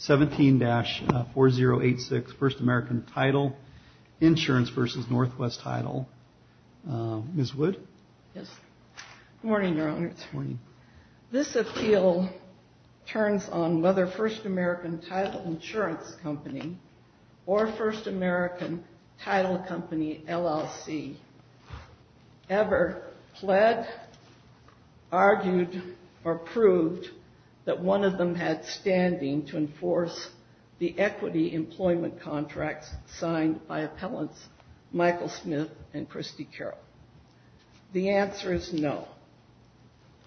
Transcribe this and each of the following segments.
17-4086, First American Title Insurance v. Northwest Title. Ms. Wood? Yes. Good morning, Your Honors. Good morning. This appeal turns on whether First American Title Insurance Company or First American Title Company, LLC, ever pled, argued, or proved that one of them had standing to enforce the equity employment contracts signed by appellants Michael Smith and Christy Carroll. The answer is no.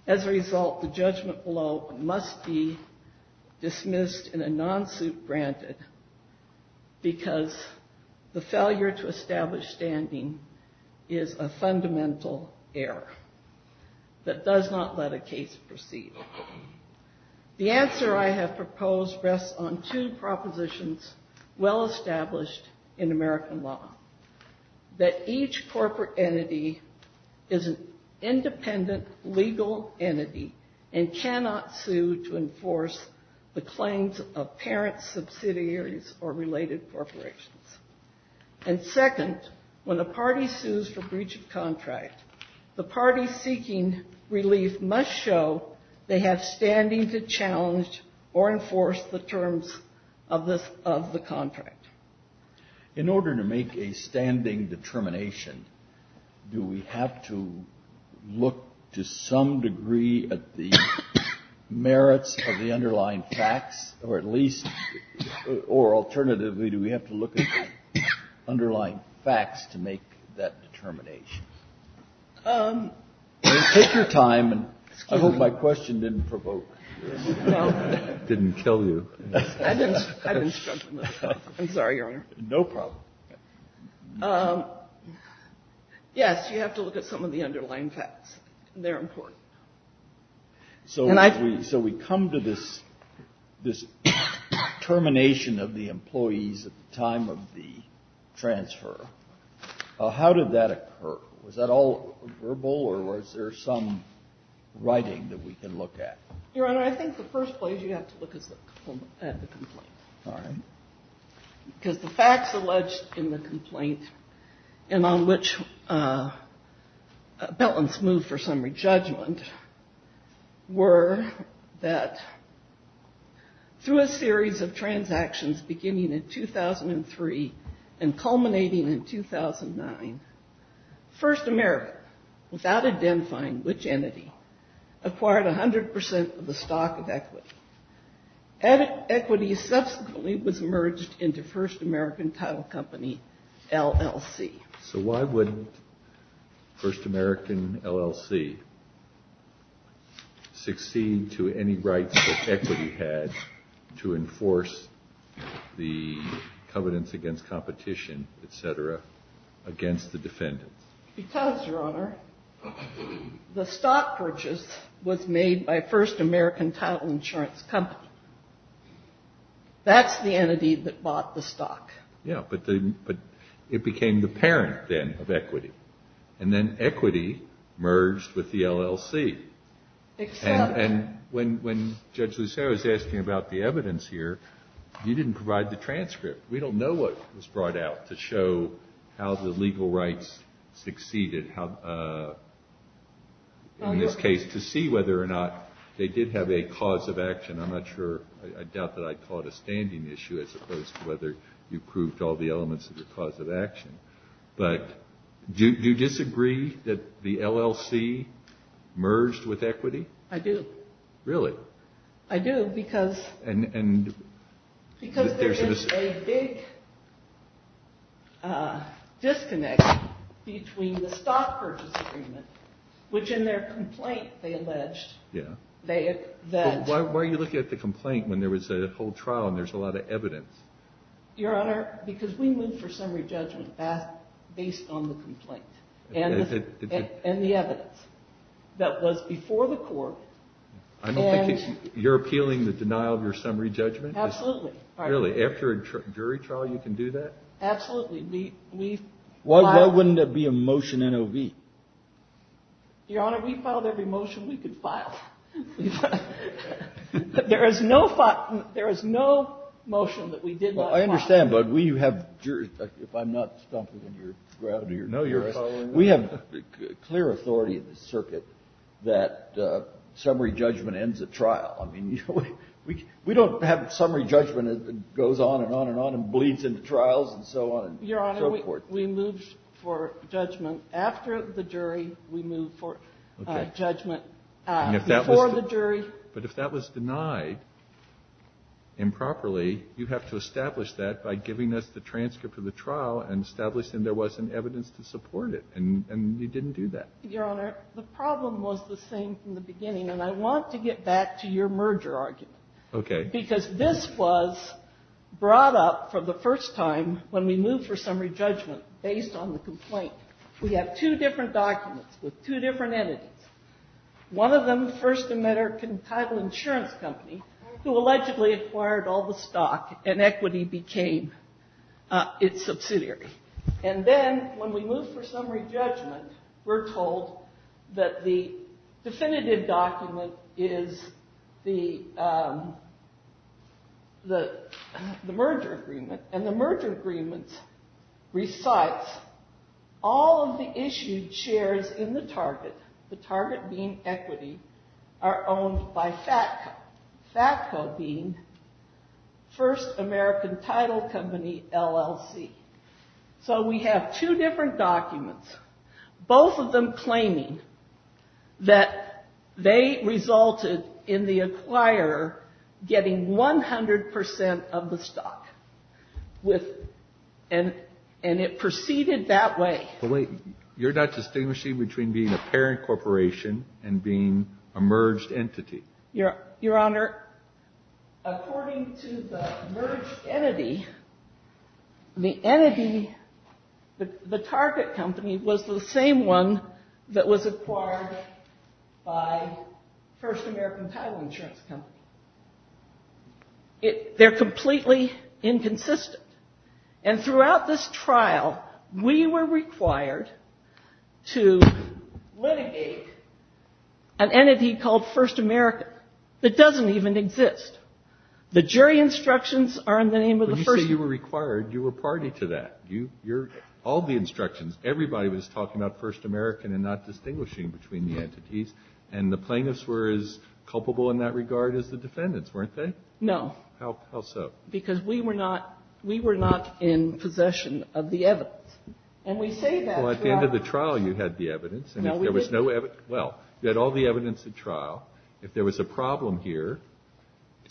As a result, the judgment below must be dismissed in a non-suit granted because the failure to establish standing is a fundamental error that does not let a case proceed. The answer I have proposed rests on two propositions well established in American law. That each corporate entity is an independent legal entity and cannot sue to enforce the claims of parents, subsidiaries, or related corporations. And second, when a party sues for breach of contract, the party seeking relief must show they have standing to challenge or enforce the terms of the contract. In order to make a standing determination, do we have to look to some degree at the merits of the underlying facts, or at least, or alternatively, do we have to look at the underlying facts to make that determination? Take your time. I hope my question didn't provoke you. It didn't kill you. I didn't struggle with it. I'm sorry, Your Honor. No problem. Yes, you have to look at some of the underlying facts. They're important. So we come to this termination of the employees at the time of the transfer. How did that occur? Was that all verbal, or was there some writing that we can look at? Your Honor, I think the first place you have to look is at the complaint. All right. Because the facts alleged in the complaint, and on which Belen's moved for some re-judgment, were that through a series of transactions beginning in 2003 and culminating in 2009, First America, without identifying which entity, acquired 100% of the stock of equity. Equity subsequently was merged into First American Title Company, LLC. So why would First American LLC succeed to any rights that equity had to enforce the covenants against competition, et cetera, against the defendants? Because, Your Honor, the stock purchase was made by First American Title Insurance Company. That's the entity that bought the stock. Yeah, but it became the parent, then, of equity. And then equity merged with the LLC. And when Judge Lucero is asking about the evidence here, you didn't provide the transcript. We don't know what was brought out to show how the legal rights succeeded, in this case, to see whether or not they did have a cause of action. I'm not sure. I doubt that I caught a standing issue, as opposed to whether you proved all the elements of the cause of action. But do you disagree that the LLC merged with equity? I do. Really? I do. Because there is a big disconnect between the stock purchase agreement, which in their complaint, they alleged, they had that. But why are you looking at the complaint when there was a whole trial and there's a lot of evidence? Your Honor, because we moved for summary judgment based on the complaint and the evidence that was before the court. I don't think you're appealing the denial of your summary judgment? Absolutely. Really? After a jury trial, you can do that? Absolutely. We filed. Why wouldn't there be a motion NOV? Your Honor, we filed every motion we could file. There is no motion that we did not file. Well, I understand, but we have jurors. If I'm not stumping in your ground here. No, you're following. We have clear authority in the circuit that summary judgment ends at trial. I mean, we don't have summary judgment that goes on and on and on and bleeds into trials and so on. Your Honor, we moved for judgment after the jury. We moved for judgment before the jury. But if that was denied improperly, you have to establish that by giving us the transcript of the trial and establishing there wasn't evidence to support it. And you didn't do that. Your Honor, the problem was the same from the beginning. And I want to get back to your merger argument. Okay. Because this was brought up for the first time when we moved for summary judgment based on the complaint. We have two different documents with two different entities. One of them, First American Title Insurance Company, who allegedly acquired all the subsidiary. And then when we moved for summary judgment, we're told that the definitive document is the merger agreement. And the merger agreement recites all of the issued shares in the target, the target being equity, are owned by FATCO. FATCO being First American Title Company, LLC. So we have two different documents. Both of them claiming that they resulted in the acquirer getting 100% of the stock. And it proceeded that way. You're not distinguishing between being a parent corporation and being a merged entity. Your Honor, according to the merged entity, the entity, the target company, was the same one that was acquired by First American Title Insurance Company. They're completely inconsistent. And throughout this trial, we were required to litigate an entity called First American that doesn't even exist. The jury instructions are in the name of the First American. When you say you were required, you were party to that. All the instructions, everybody was talking about First American and not distinguishing between the entities. And the plaintiffs were as culpable in that regard as the defendants, weren't they? No. How so? Because we were not in possession of the evidence. And we say that throughout the trial. Well, at the end of the trial, you had the evidence. No, we didn't. Well, you had all the evidence at trial. If there was a problem here,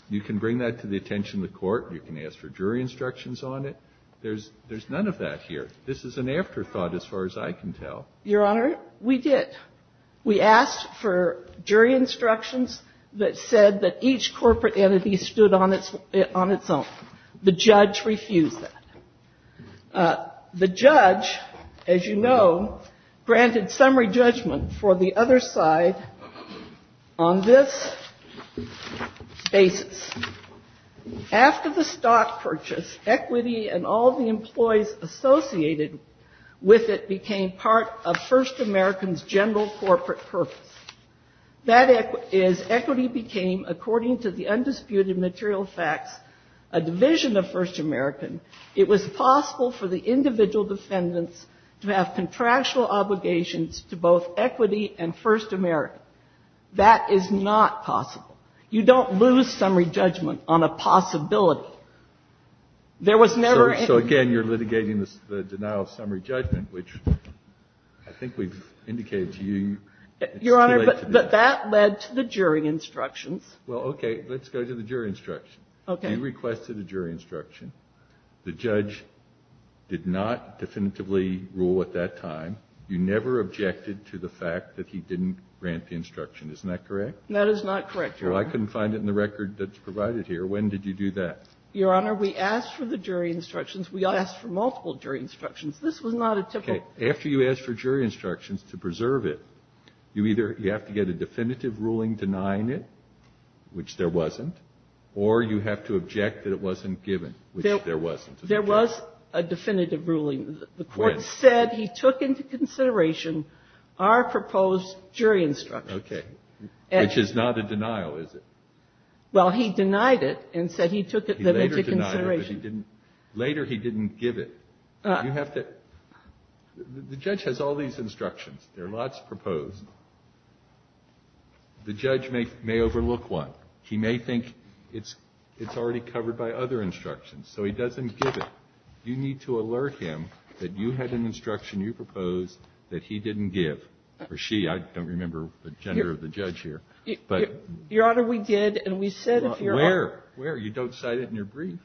you can bring that to the attention of the Court. You can ask for jury instructions on it. There's none of that here. This is an afterthought as far as I can tell. Your Honor, we did. We asked for jury instructions that said that each corporate entity stood on its own. The judge refused that. The judge, as you know, granted summary judgment for the other side on this basis. After the stock purchase, equity and all the employees associated with it became part of First American's general corporate purpose. That is, equity became, according to the undisputed material facts, a division of First American. It was possible for the individual defendants to have contractual obligations to both equity and First American. That is not possible. You don't lose summary judgment on a possibility. There was never any ---- So, again, you're litigating the denial of summary judgment, which I think we've indicated to you. Your Honor, but that led to the jury instructions. Well, okay. Let's go to the jury instructions. Okay. You requested a jury instruction. The judge did not definitively rule at that time. You never objected to the fact that he didn't grant the instruction. Isn't that correct? That is not correct, Your Honor. Well, I couldn't find it in the record that's provided here. When did you do that? Your Honor, we asked for the jury instructions. We asked for multiple jury instructions. This was not a typical ---- Okay. After you ask for jury instructions to preserve it, you either have to get a definitive ruling denying it, which there wasn't, or you have to object that it wasn't given, which there wasn't. There was a definitive ruling. When? The Court said he took into consideration our proposed jury instructions. Okay. Which is not a denial, is it? Well, he denied it and said he took it into consideration. He later denied it, but he didn't ---- later he didn't give it. You have to ---- the judge has all these instructions. There are lots proposed. The judge may overlook one. He may think it's already covered by other instructions, so he doesn't give it. You need to alert him that you had an instruction you proposed that he didn't give or she. I don't remember the gender of the judge here, but ---- Your Honor, we did, and we said if your ---- Where? Where? You don't cite it in your brief.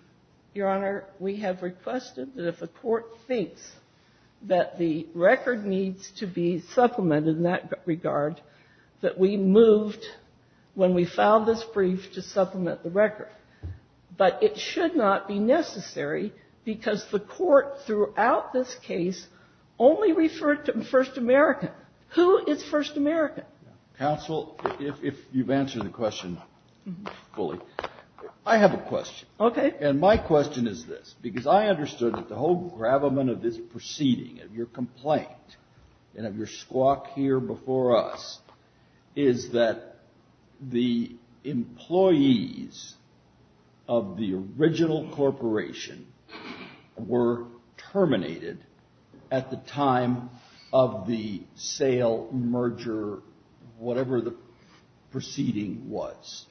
Your Honor, we have requested that if a court thinks that the record needs to be supplemented in that regard, that we moved, when we filed this brief, to supplement the record. But it should not be necessary because the Court throughout this case only referred to First America. Who is First America? Counsel, if you've answered the question fully, I have a question. Okay. And my question is this, because I understood that the whole gravamen of this proceeding, of your complaint and of your squawk here before us, is that the employees of the sale, merger, whatever the proceeding was,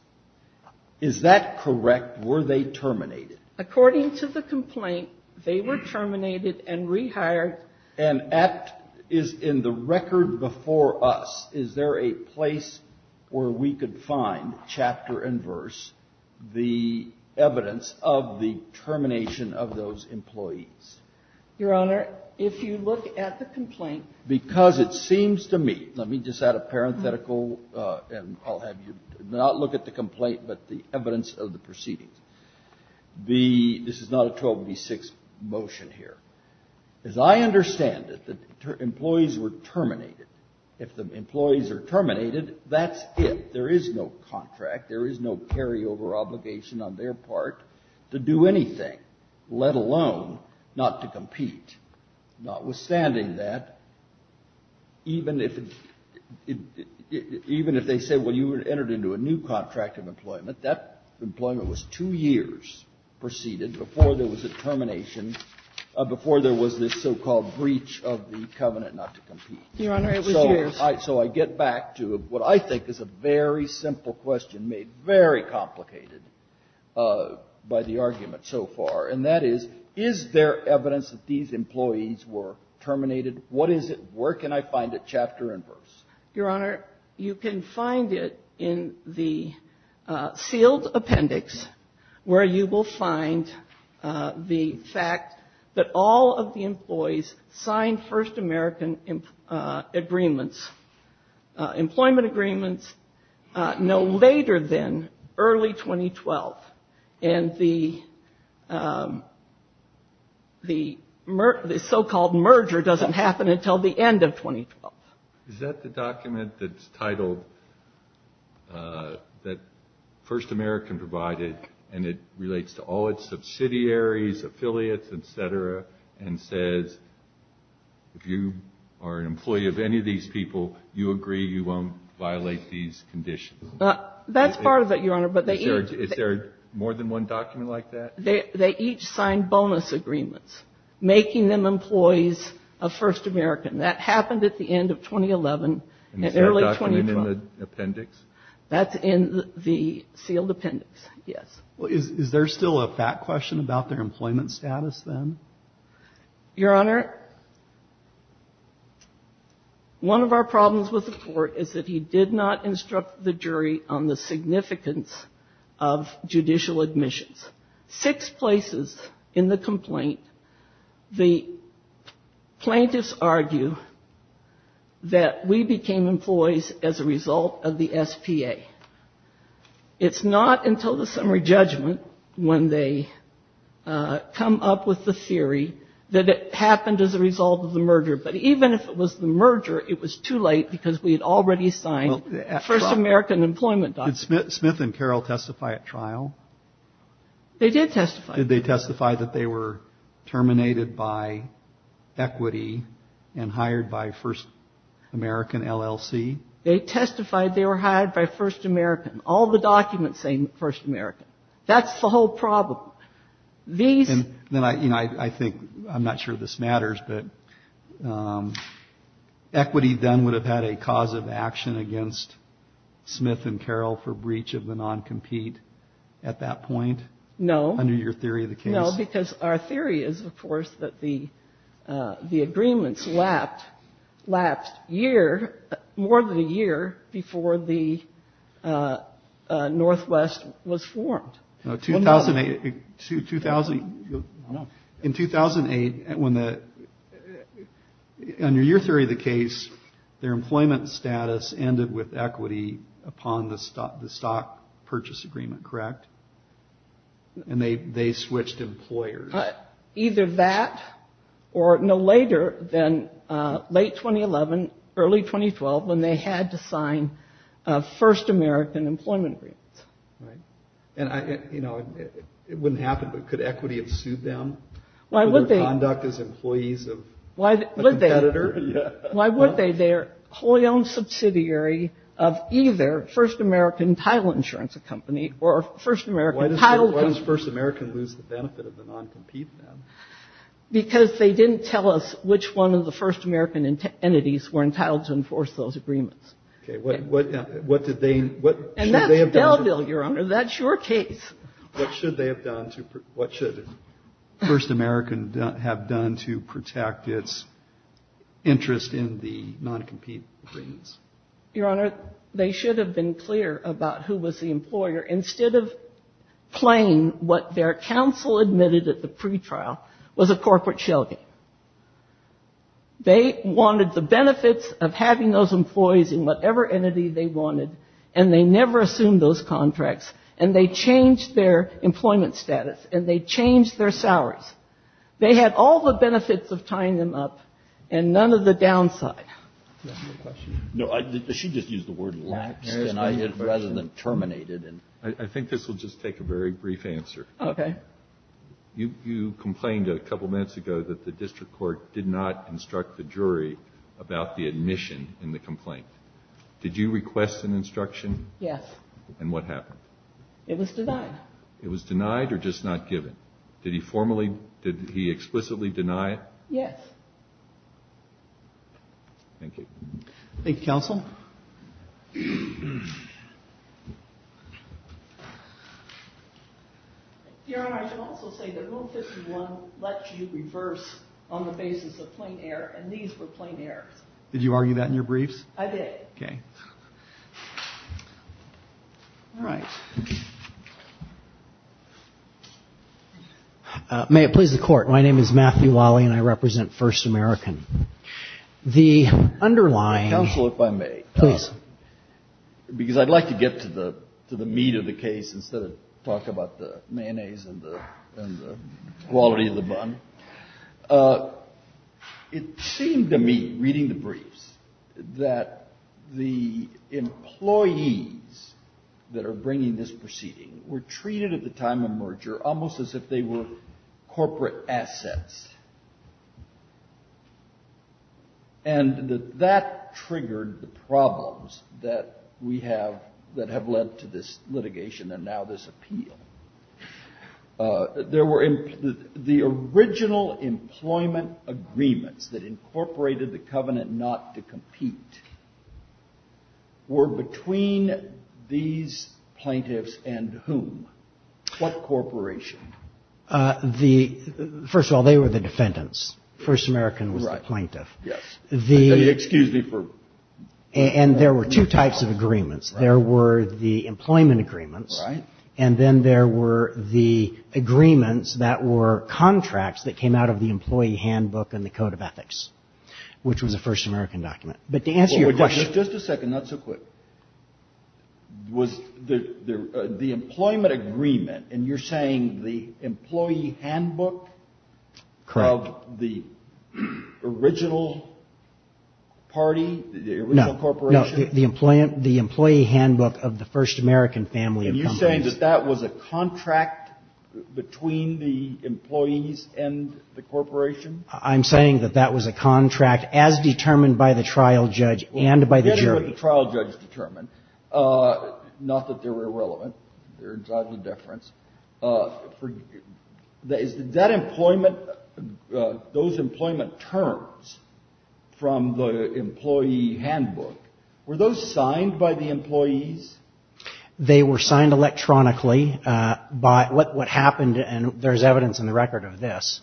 is that correct? Were they terminated? According to the complaint, they were terminated and rehired. And in the record before us, is there a place where we could find, chapter and verse, the evidence of the termination of those employees? Your Honor, if you look at the complaint. Because it seems to me, let me just add a parenthetical, and I'll have you not look at the complaint, but the evidence of the proceedings. The, this is not a 1286 motion here. As I understand it, the employees were terminated. If the employees are terminated, that's it. There is no contract, there is no carryover obligation on their part to do anything, let alone not to compete. Notwithstanding that, even if, even if they say, well, you were entered into a new contract of employment, that employment was two years preceded before there was a termination, before there was this so-called breach of the covenant not to compete. Your Honor, it was years. So I get back to what I think is a very simple question made very complicated by the argument so far. And that is, is there evidence that these employees were terminated? What is it? Where can I find it, chapter and verse? Your Honor, you can find it in the sealed appendix, where you will find the fact that all of the employees signed First American agreements, employment agreements no later than early 2012. And the so-called merger doesn't happen until the end of 2012. Is that the document that's titled, that First American provided and it relates to all its subsidiaries, affiliates, et cetera, and says, if you are an employee of any of these people, you agree you won't violate these conditions? That's part of it, Your Honor. But they each ---- Is there more than one document like that? They each signed bonus agreements, making them employees of First American. That happened at the end of 2011 and early 2012. And is that document in the appendix? That's in the sealed appendix, yes. Well, is there still a fact question about their employment status then? Your Honor, one of our problems with the Court is that he did not instruct the jury on the significance of judicial admissions. Six places in the complaint, the plaintiffs argue that we became employees as a result of the SPA. It's not until the summary judgment when they come up with the theory that it happened as a result of the merger. But even if it was the merger, it was too late because we had already signed First American employment documents. Did Smith and Carroll testify at trial? They did testify. Did they testify that they were terminated by equity and hired by First American LLC? They testified they were hired by First American. All the documents say First American. That's the whole problem. These ---- I'm not sure this matters, but equity then would have had a cause of action against Smith and Carroll for breach of the non-compete at that point? No. Under your theory of the case? No, because our theory is, of course, that the agreements lapsed more than a year before the Northwest was formed. In 2008, under your theory of the case, their employment status ended with equity upon the stock purchase agreement, correct? And they switched employers. Either that or no later than late 2011, early 2012 when they had to sign First American employment agreements. It wouldn't happen, but could equity have sued them for their conduct as employees of a competitor? Why would they? They are wholly owned subsidiary of either First American title insurance company or First American title ---- Why does First American lose the benefit of the non-compete then? Because they didn't tell us which one of the First American entities were entitled to enforce those agreements. Okay. What did they ---- And that's Belleville, Your Honor. That's your case. What should they have done to ---- What should First American have done to protect its interest in the non-compete agreements? Your Honor, they should have been clear about who was the employer. Instead of playing what their counsel admitted at the pretrial was a corporate shell game. They wanted the benefits of having those employees in whatever entity they wanted and they never assumed those contracts and they changed their employment status and they changed their salaries. They had all the benefits of tying them up and none of the downside. No, she just used the word laxed rather than terminated. I think this will just take a very brief answer. Okay. You complained a couple minutes ago that the district court did not instruct the jury about the admission in the complaint. Did you request an instruction? Yes. And what happened? It was denied. It was denied or just not given? Did he formally ---- Did he explicitly deny it? Yes. Thank you. Thank you, counsel. Your Honor, I should also say that Rule 51 lets you reverse on the basis of plain air and these were plain airs. Did you argue that in your briefs? I did. Okay. All right. May it please the Court. My name is Matthew Wally and I represent First American. The underlying ---- Counsel, if I may. Please. Because I'd like to get to the meat of the case instead of talk about the mayonnaise and the quality of the bun. It seemed to me, reading the briefs, that the employees that are bringing this proceeding were treated at the time of merger almost as if they were corporate assets. And that that triggered the problems that we have that have led to this litigation and now this appeal. There were ---- The original employment agreements that incorporated the covenant not to compete were between these plaintiffs and whom? What corporation? The ---- First of all, they were the defendants. First American was the plaintiff. Yes. The ---- Excuse me for ---- And there were two types of agreements. There were the employment agreements. Right. And then there were the agreements that were contracts that came out of the employee handbook and the Code of Ethics, which was a First American document. But to answer your question ---- Just a second. Not so quick. Was the employment agreement, and you're saying the employee handbook of the original party, the original corporation? No. The employee handbook of the First American family of companies. And you're saying that that was a contract between the employees and the corporation? I'm saying that that was a contract as determined by the trial judge and by the jury. Well, it depended what the trial judge determined, not that they were irrelevant. They're entirely different. Is that employment, those employment terms from the employee handbook, were those signed by the employees? They were signed electronically by what happened. And there's evidence in the record of this.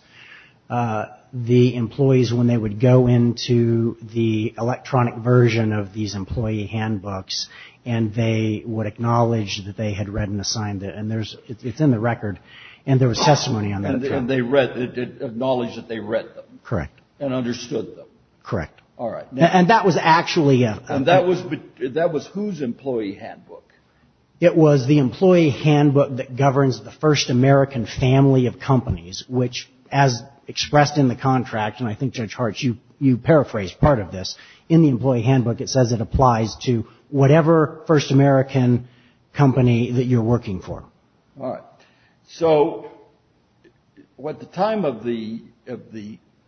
The employees, when they would go into the electronic version of these employee handbooks, and they would acknowledge that they had read and assigned it. And it's in the record. And there was testimony on that. And they acknowledged that they read them. Correct. And understood them. Correct. All right. And that was actually a ---- It was the employee handbook that governs the First American family of companies, which as expressed in the contract, and I think, Judge Hart, you paraphrased part of this. In the employee handbook, it says it applies to whatever First American company that you're working for. All right. So at the time of the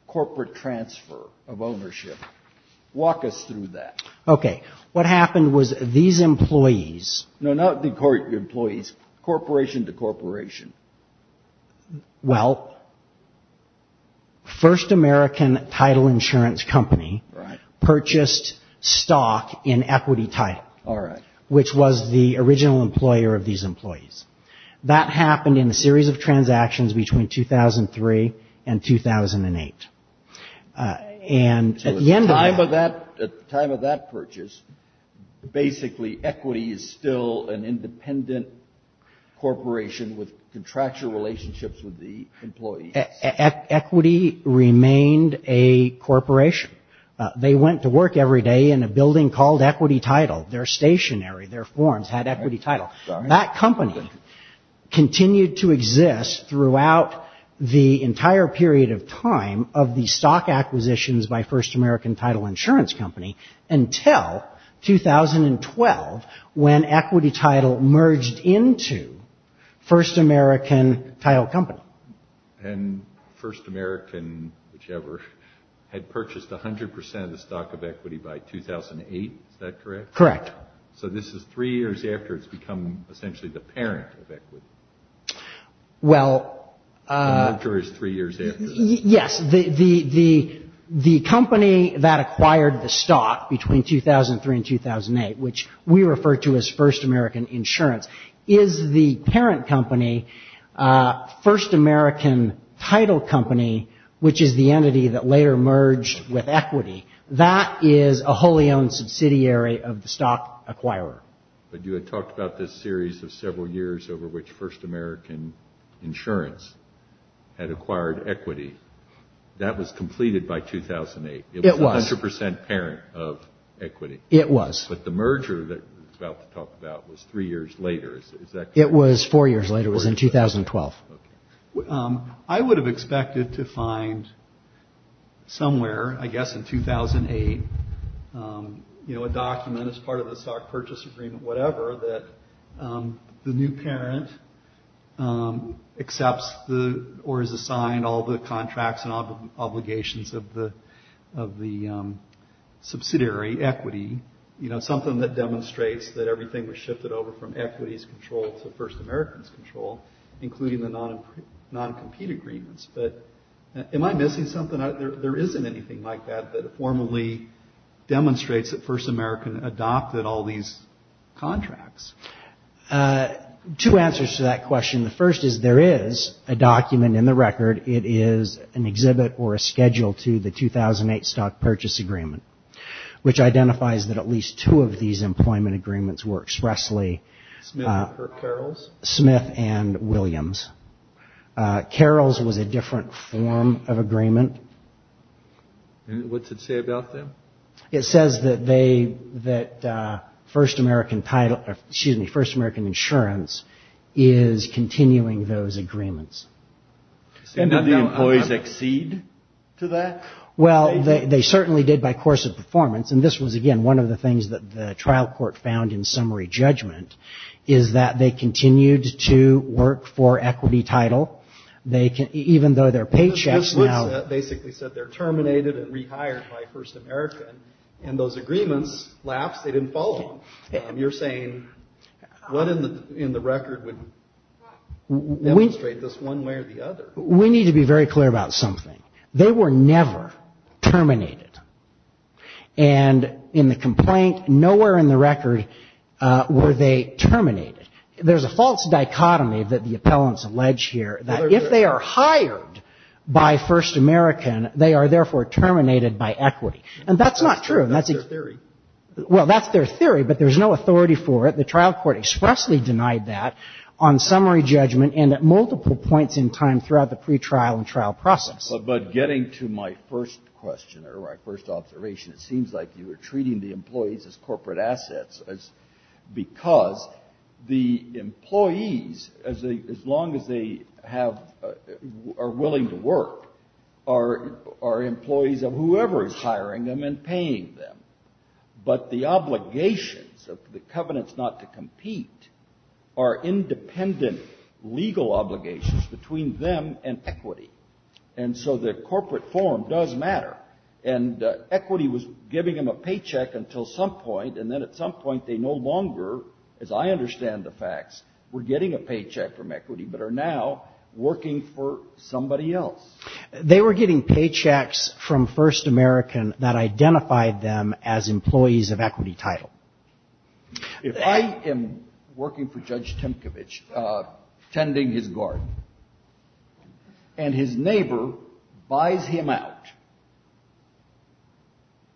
corporate transfer of ownership, walk us through that. Okay. What happened was these employees ---- No, not the employees. Corporation to corporation. Well, First American Title Insurance Company ---- Right. ----purchased stock in Equity Title. All right. Which was the original employer of these employees. That happened in a series of transactions between 2003 and 2008. And at the end of that ---- Basically, Equity is still an independent corporation with contractual relationships with the employees. Equity remained a corporation. They went to work every day in a building called Equity Title. They're stationary. Their forms had Equity Title. That company continued to exist throughout the entire period of time of the stock acquisitions by First American Title Insurance Company until 2012 when Equity Title merged into First American Title Company. And First American, whichever, had purchased 100% of the stock of Equity by 2008. Is that correct? Correct. So this is three years after it's become essentially the parent of Equity. Well ---- The merger is three years after. Yes. The company that acquired the stock between 2003 and 2008, which we refer to as First American Insurance, is the parent company, First American Title Company, which is the entity that later merged with Equity. That is a wholly owned subsidiary of the stock acquirer. But you had talked about this series of several years over which First American Insurance had acquired Equity. That was completed by 2008. It was. It was 100% parent of Equity. It was. But the merger that we're about to talk about was three years later. Is that correct? It was four years later. It was in 2012. Okay. I would have expected to find somewhere, I guess in 2008, you know, a document as part of the stock purchase agreement, whatever, that the new parent accepts or is assigned all the contracts and obligations of the subsidiary, Equity. You know, something that demonstrates that everything was shifted over from Equity's control to First American's control, including the non-compete agreements. But am I missing something? There isn't anything like that that formally demonstrates that First American adopted all these contracts. Two answers to that question. The first is there is a document in the record. It is an exhibit or a schedule to the 2008 stock purchase agreement, which identifies that at least two of these employment agreements were expressly Smith and Williams. Carroll's was a different form of agreement. What's it say about them? It says that First American title, excuse me, First American insurance is continuing those agreements. So none of the employees exceed to that? Well, they certainly did by course of performance. And this was, again, one of the things that the trial court found in summary judgment is that they continued to work for equity title. They can even though their paychecks basically said they're terminated and rehired by First American. And those agreements lapse. They didn't fall. And you're saying what in the in the record would we trade this one way or the other? We need to be very clear about something. They were never terminated. And in the complaint, nowhere in the record were they terminated. There's a false dichotomy that the appellants allege here that if they are hired by First American, they are therefore terminated by equity. And that's not true. That's a theory. Well, that's their theory. But there's no authority for it. The trial court expressly denied that on summary judgment and at multiple points in time throughout the pretrial and trial process. But getting to my first question or my first observation, it seems like you were treating the employees as corporate assets because the employees, as long as they have or are willing to work, are employees of whoever is hiring them and paying them. But the obligations of the covenants not to compete are independent legal obligations between them and equity. And so the corporate form does matter. And equity was giving them a paycheck until some point, and then at some point they no longer, as I understand the facts, were getting a paycheck from equity but are now working for somebody else. They were getting paychecks from First American that identified them as employees of equity title. If I am working for Judge Temkovitch, tending his garden, and his neighbor buys him out,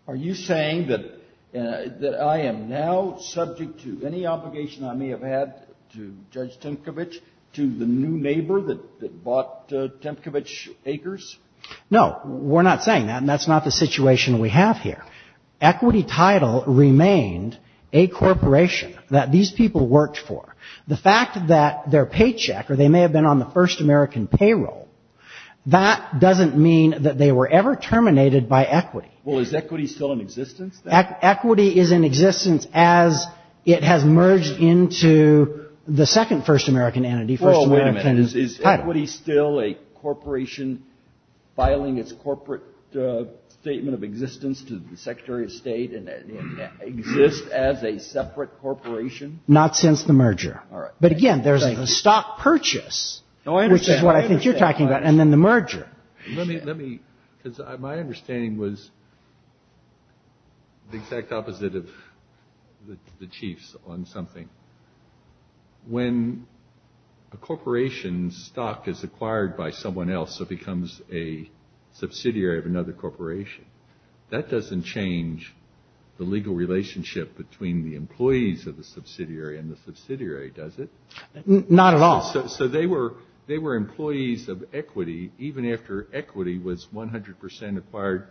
are you saying that I am now subject to any obligation I may have had to Judge Temkovitch to the new neighbor that bought Temkovitch Acres? No. We're not saying that. And that's not the situation we have here. In fact, equity title remained a corporation that these people worked for. The fact that their paycheck, or they may have been on the First American payroll, that doesn't mean that they were ever terminated by equity. Well, is equity still in existence? Equity is in existence as it has merged into the second First American entity, First American title. Is equity still a corporation filing its corporate statement of existence to the Secretary of State and exists as a separate corporation? Not since the merger. All right. But, again, there's a stock purchase, which is what I think you're talking about, and then the merger. Because my understanding was the exact opposite of the Chief's on something. When a corporation's stock is acquired by someone else, it becomes a subsidiary of another corporation. That doesn't change the legal relationship between the employees of the subsidiary and the subsidiary, does it? Not at all. So they were employees of equity even after equity was 100 percent acquired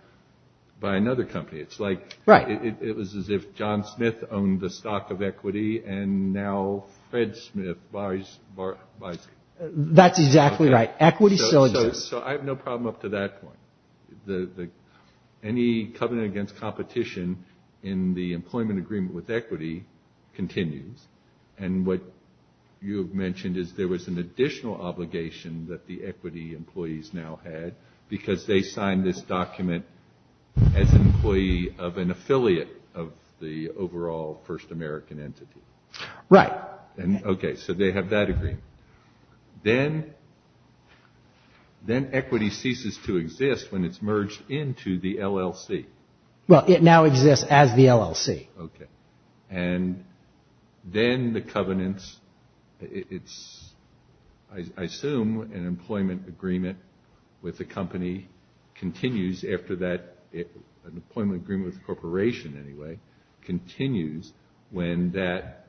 by another company. It's like it was as if John Smith owned the stock of equity and now Fred Smith buys it. That's exactly right. Equity still exists. So I have no problem up to that point. Any covenant against competition in the employment agreement with equity continues. And what you have mentioned is there was an additional obligation that the equity employees now had because they signed this document as an employee of an affiliate of the overall First American entity. Right. Okay. So they have that agreement. Then equity ceases to exist when it's merged into the LLC. Well, it now exists as the LLC. Okay. And then the covenants, it's, I assume, an employment agreement with a company continues after that. An employment agreement with a corporation, anyway, continues when that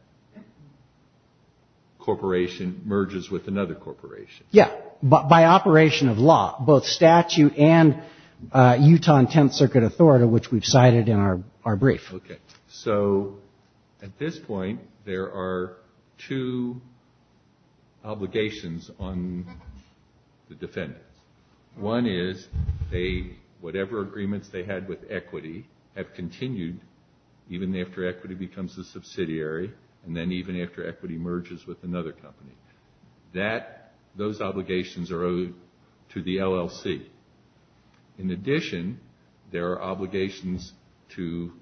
corporation merges with another corporation. Yeah, by operation of law, both statute and Utah and Tenth Circuit authority, which we've cited in our brief. Okay. So at this point, there are two obligations on the defendants. One is whatever agreements they had with equity have continued even after equity becomes a subsidiary and then even after equity merges with another company. Those obligations are owed to the LLC. In addition, there are obligations to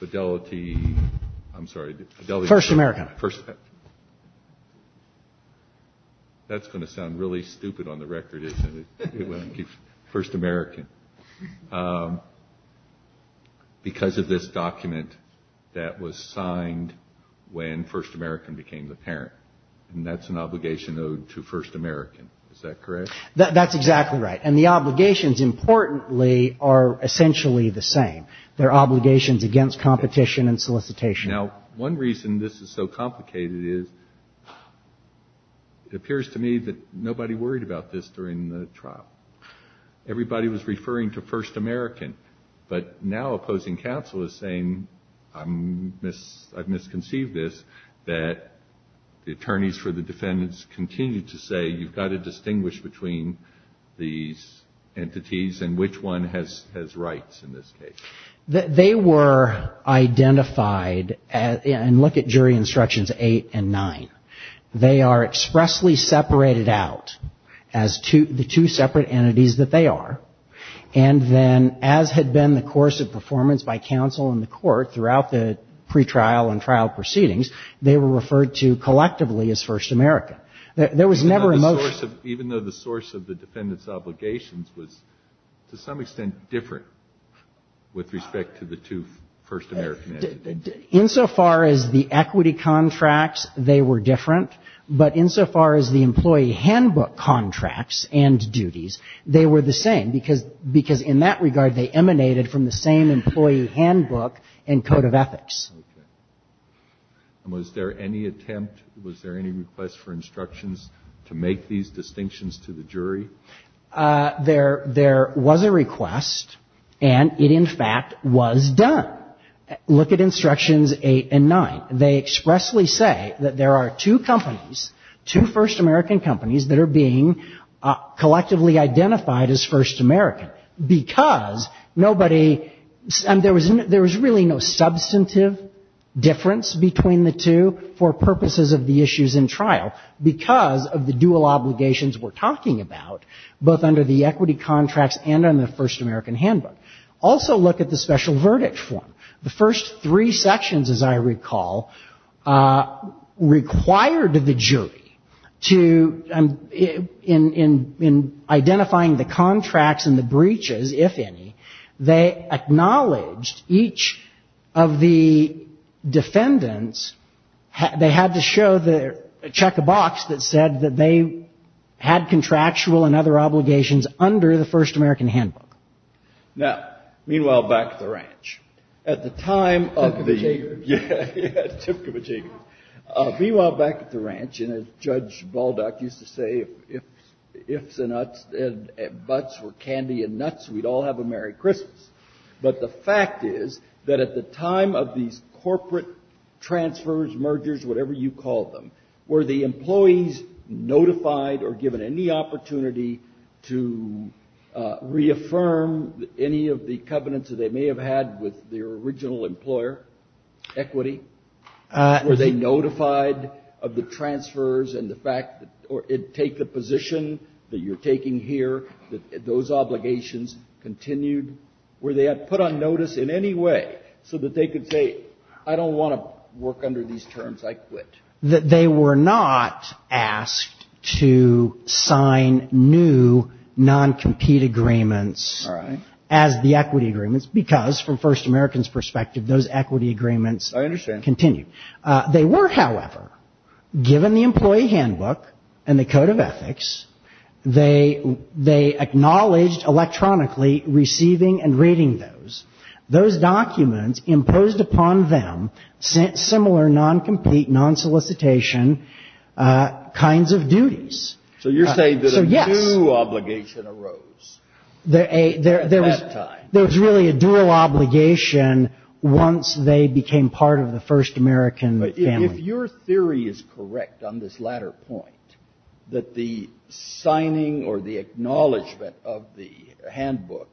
Fidelity. I'm sorry. First American. That's going to sound really stupid on the record, isn't it? First American. Because of this document that was signed when First American became the parent. And that's an obligation owed to First American. Is that correct? That's exactly right. And the obligations, importantly, are essentially the same. They're obligations against competition and solicitation. Now, one reason this is so complicated is it appears to me that nobody worried about this during the trial. Everybody was referring to First American. But now opposing counsel is saying I've misconceived this, that the attorneys for the defendants continue to say you've got to distinguish between these entities and which one has rights in this case. They were identified and look at jury instructions eight and nine. They are expressly separated out as the two separate entities that they are. And then as had been the course of performance by counsel in the court throughout the pretrial and trial proceedings, they were referred to collectively as First American. There was never a motion. Even though the source of the defendant's obligations was to some extent different with respect to the two First American entities. Insofar as the equity contracts, they were different. But insofar as the employee handbook contracts and duties, they were the same. Because in that regard, they emanated from the same employee handbook and code of ethics. And was there any attempt, was there any request for instructions to make these distinctions to the jury? There was a request, and it, in fact, was done. Look at instructions eight and nine. They expressly say that there are two companies, two First American companies that are being collectively identified as First American. Because nobody, and there was really no substantive difference between the two for purposes of the issues in trial. Because of the dual obligations we're talking about, both under the equity contracts and on the First American handbook. Also look at the special verdict form. The first three sections, as I recall, required the jury to, in identifying the contracts and the breaches, if any, they acknowledged each of the defendants, they had to show the check of box that said that they had contractual and other obligations under the First American handbook. Now, meanwhile, back at the ranch. At the time of the... Meanwhile, back at the ranch, and as Judge Baldock used to say, if the nuts and butts were candy and nuts, we'd all have a Merry Christmas. But the fact is that at the time of these corporate transfers, mergers, whatever you call them, were the employees notified or given any opportunity to reaffirm any of the covenants that they may have had with their original employer, equity? Were they notified of the transfers and the fact, or take the position that you're taking here, that those obligations continued? Were they put on notice in any way so that they could say, I don't want to work under these terms, I quit? That they were not asked to sign new non-compete agreements as the equity agreements, because from First American's perspective, those equity agreements... I understand. ...continued. They were, however, given the employee handbook and the code of ethics, they acknowledged electronically receiving and reading those. Those documents imposed upon them similar non-compete, non-solicitation kinds of duties. So you're saying that a new obligation arose at that time? There was really a dual obligation once they became part of the First American family. But if your theory is correct on this latter point, that the signing or the acknowledgement of the handbook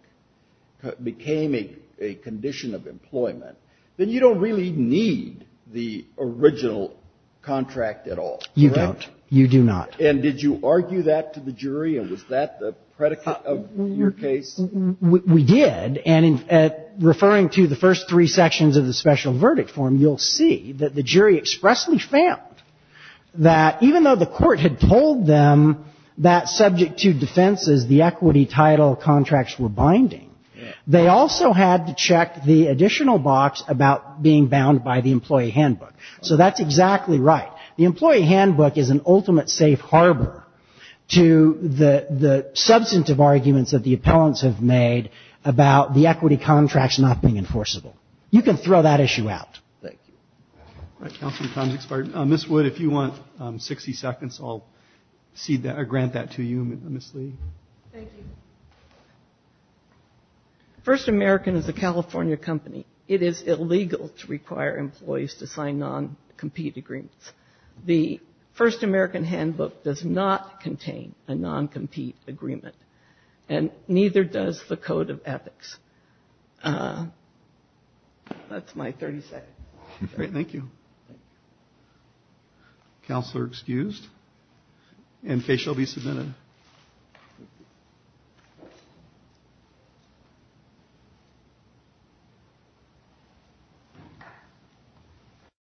became a dual obligation, a condition of employment, then you don't really need the original contract at all, correct? You don't. You do not. And did you argue that to the jury, and was that the predicate of your case? We did. And in referring to the first three sections of the special verdict form, you'll see that the jury expressly found that even though the Court had told them that, subject to defenses, the equity title contracts were binding, they also had to check the additional box about being bound by the employee handbook. So that's exactly right. The employee handbook is an ultimate safe harbor to the substantive arguments that the appellants have made about the equity contracts not being enforceable. You can throw that issue out. I'll grant that to you, Ms. Lee. First American is a California company. It is illegal to require employees to sign non-compete agreements. The First American handbook does not contain a non-compete agreement, and neither does the Code of Ethics. That's my 30 seconds. Thank you.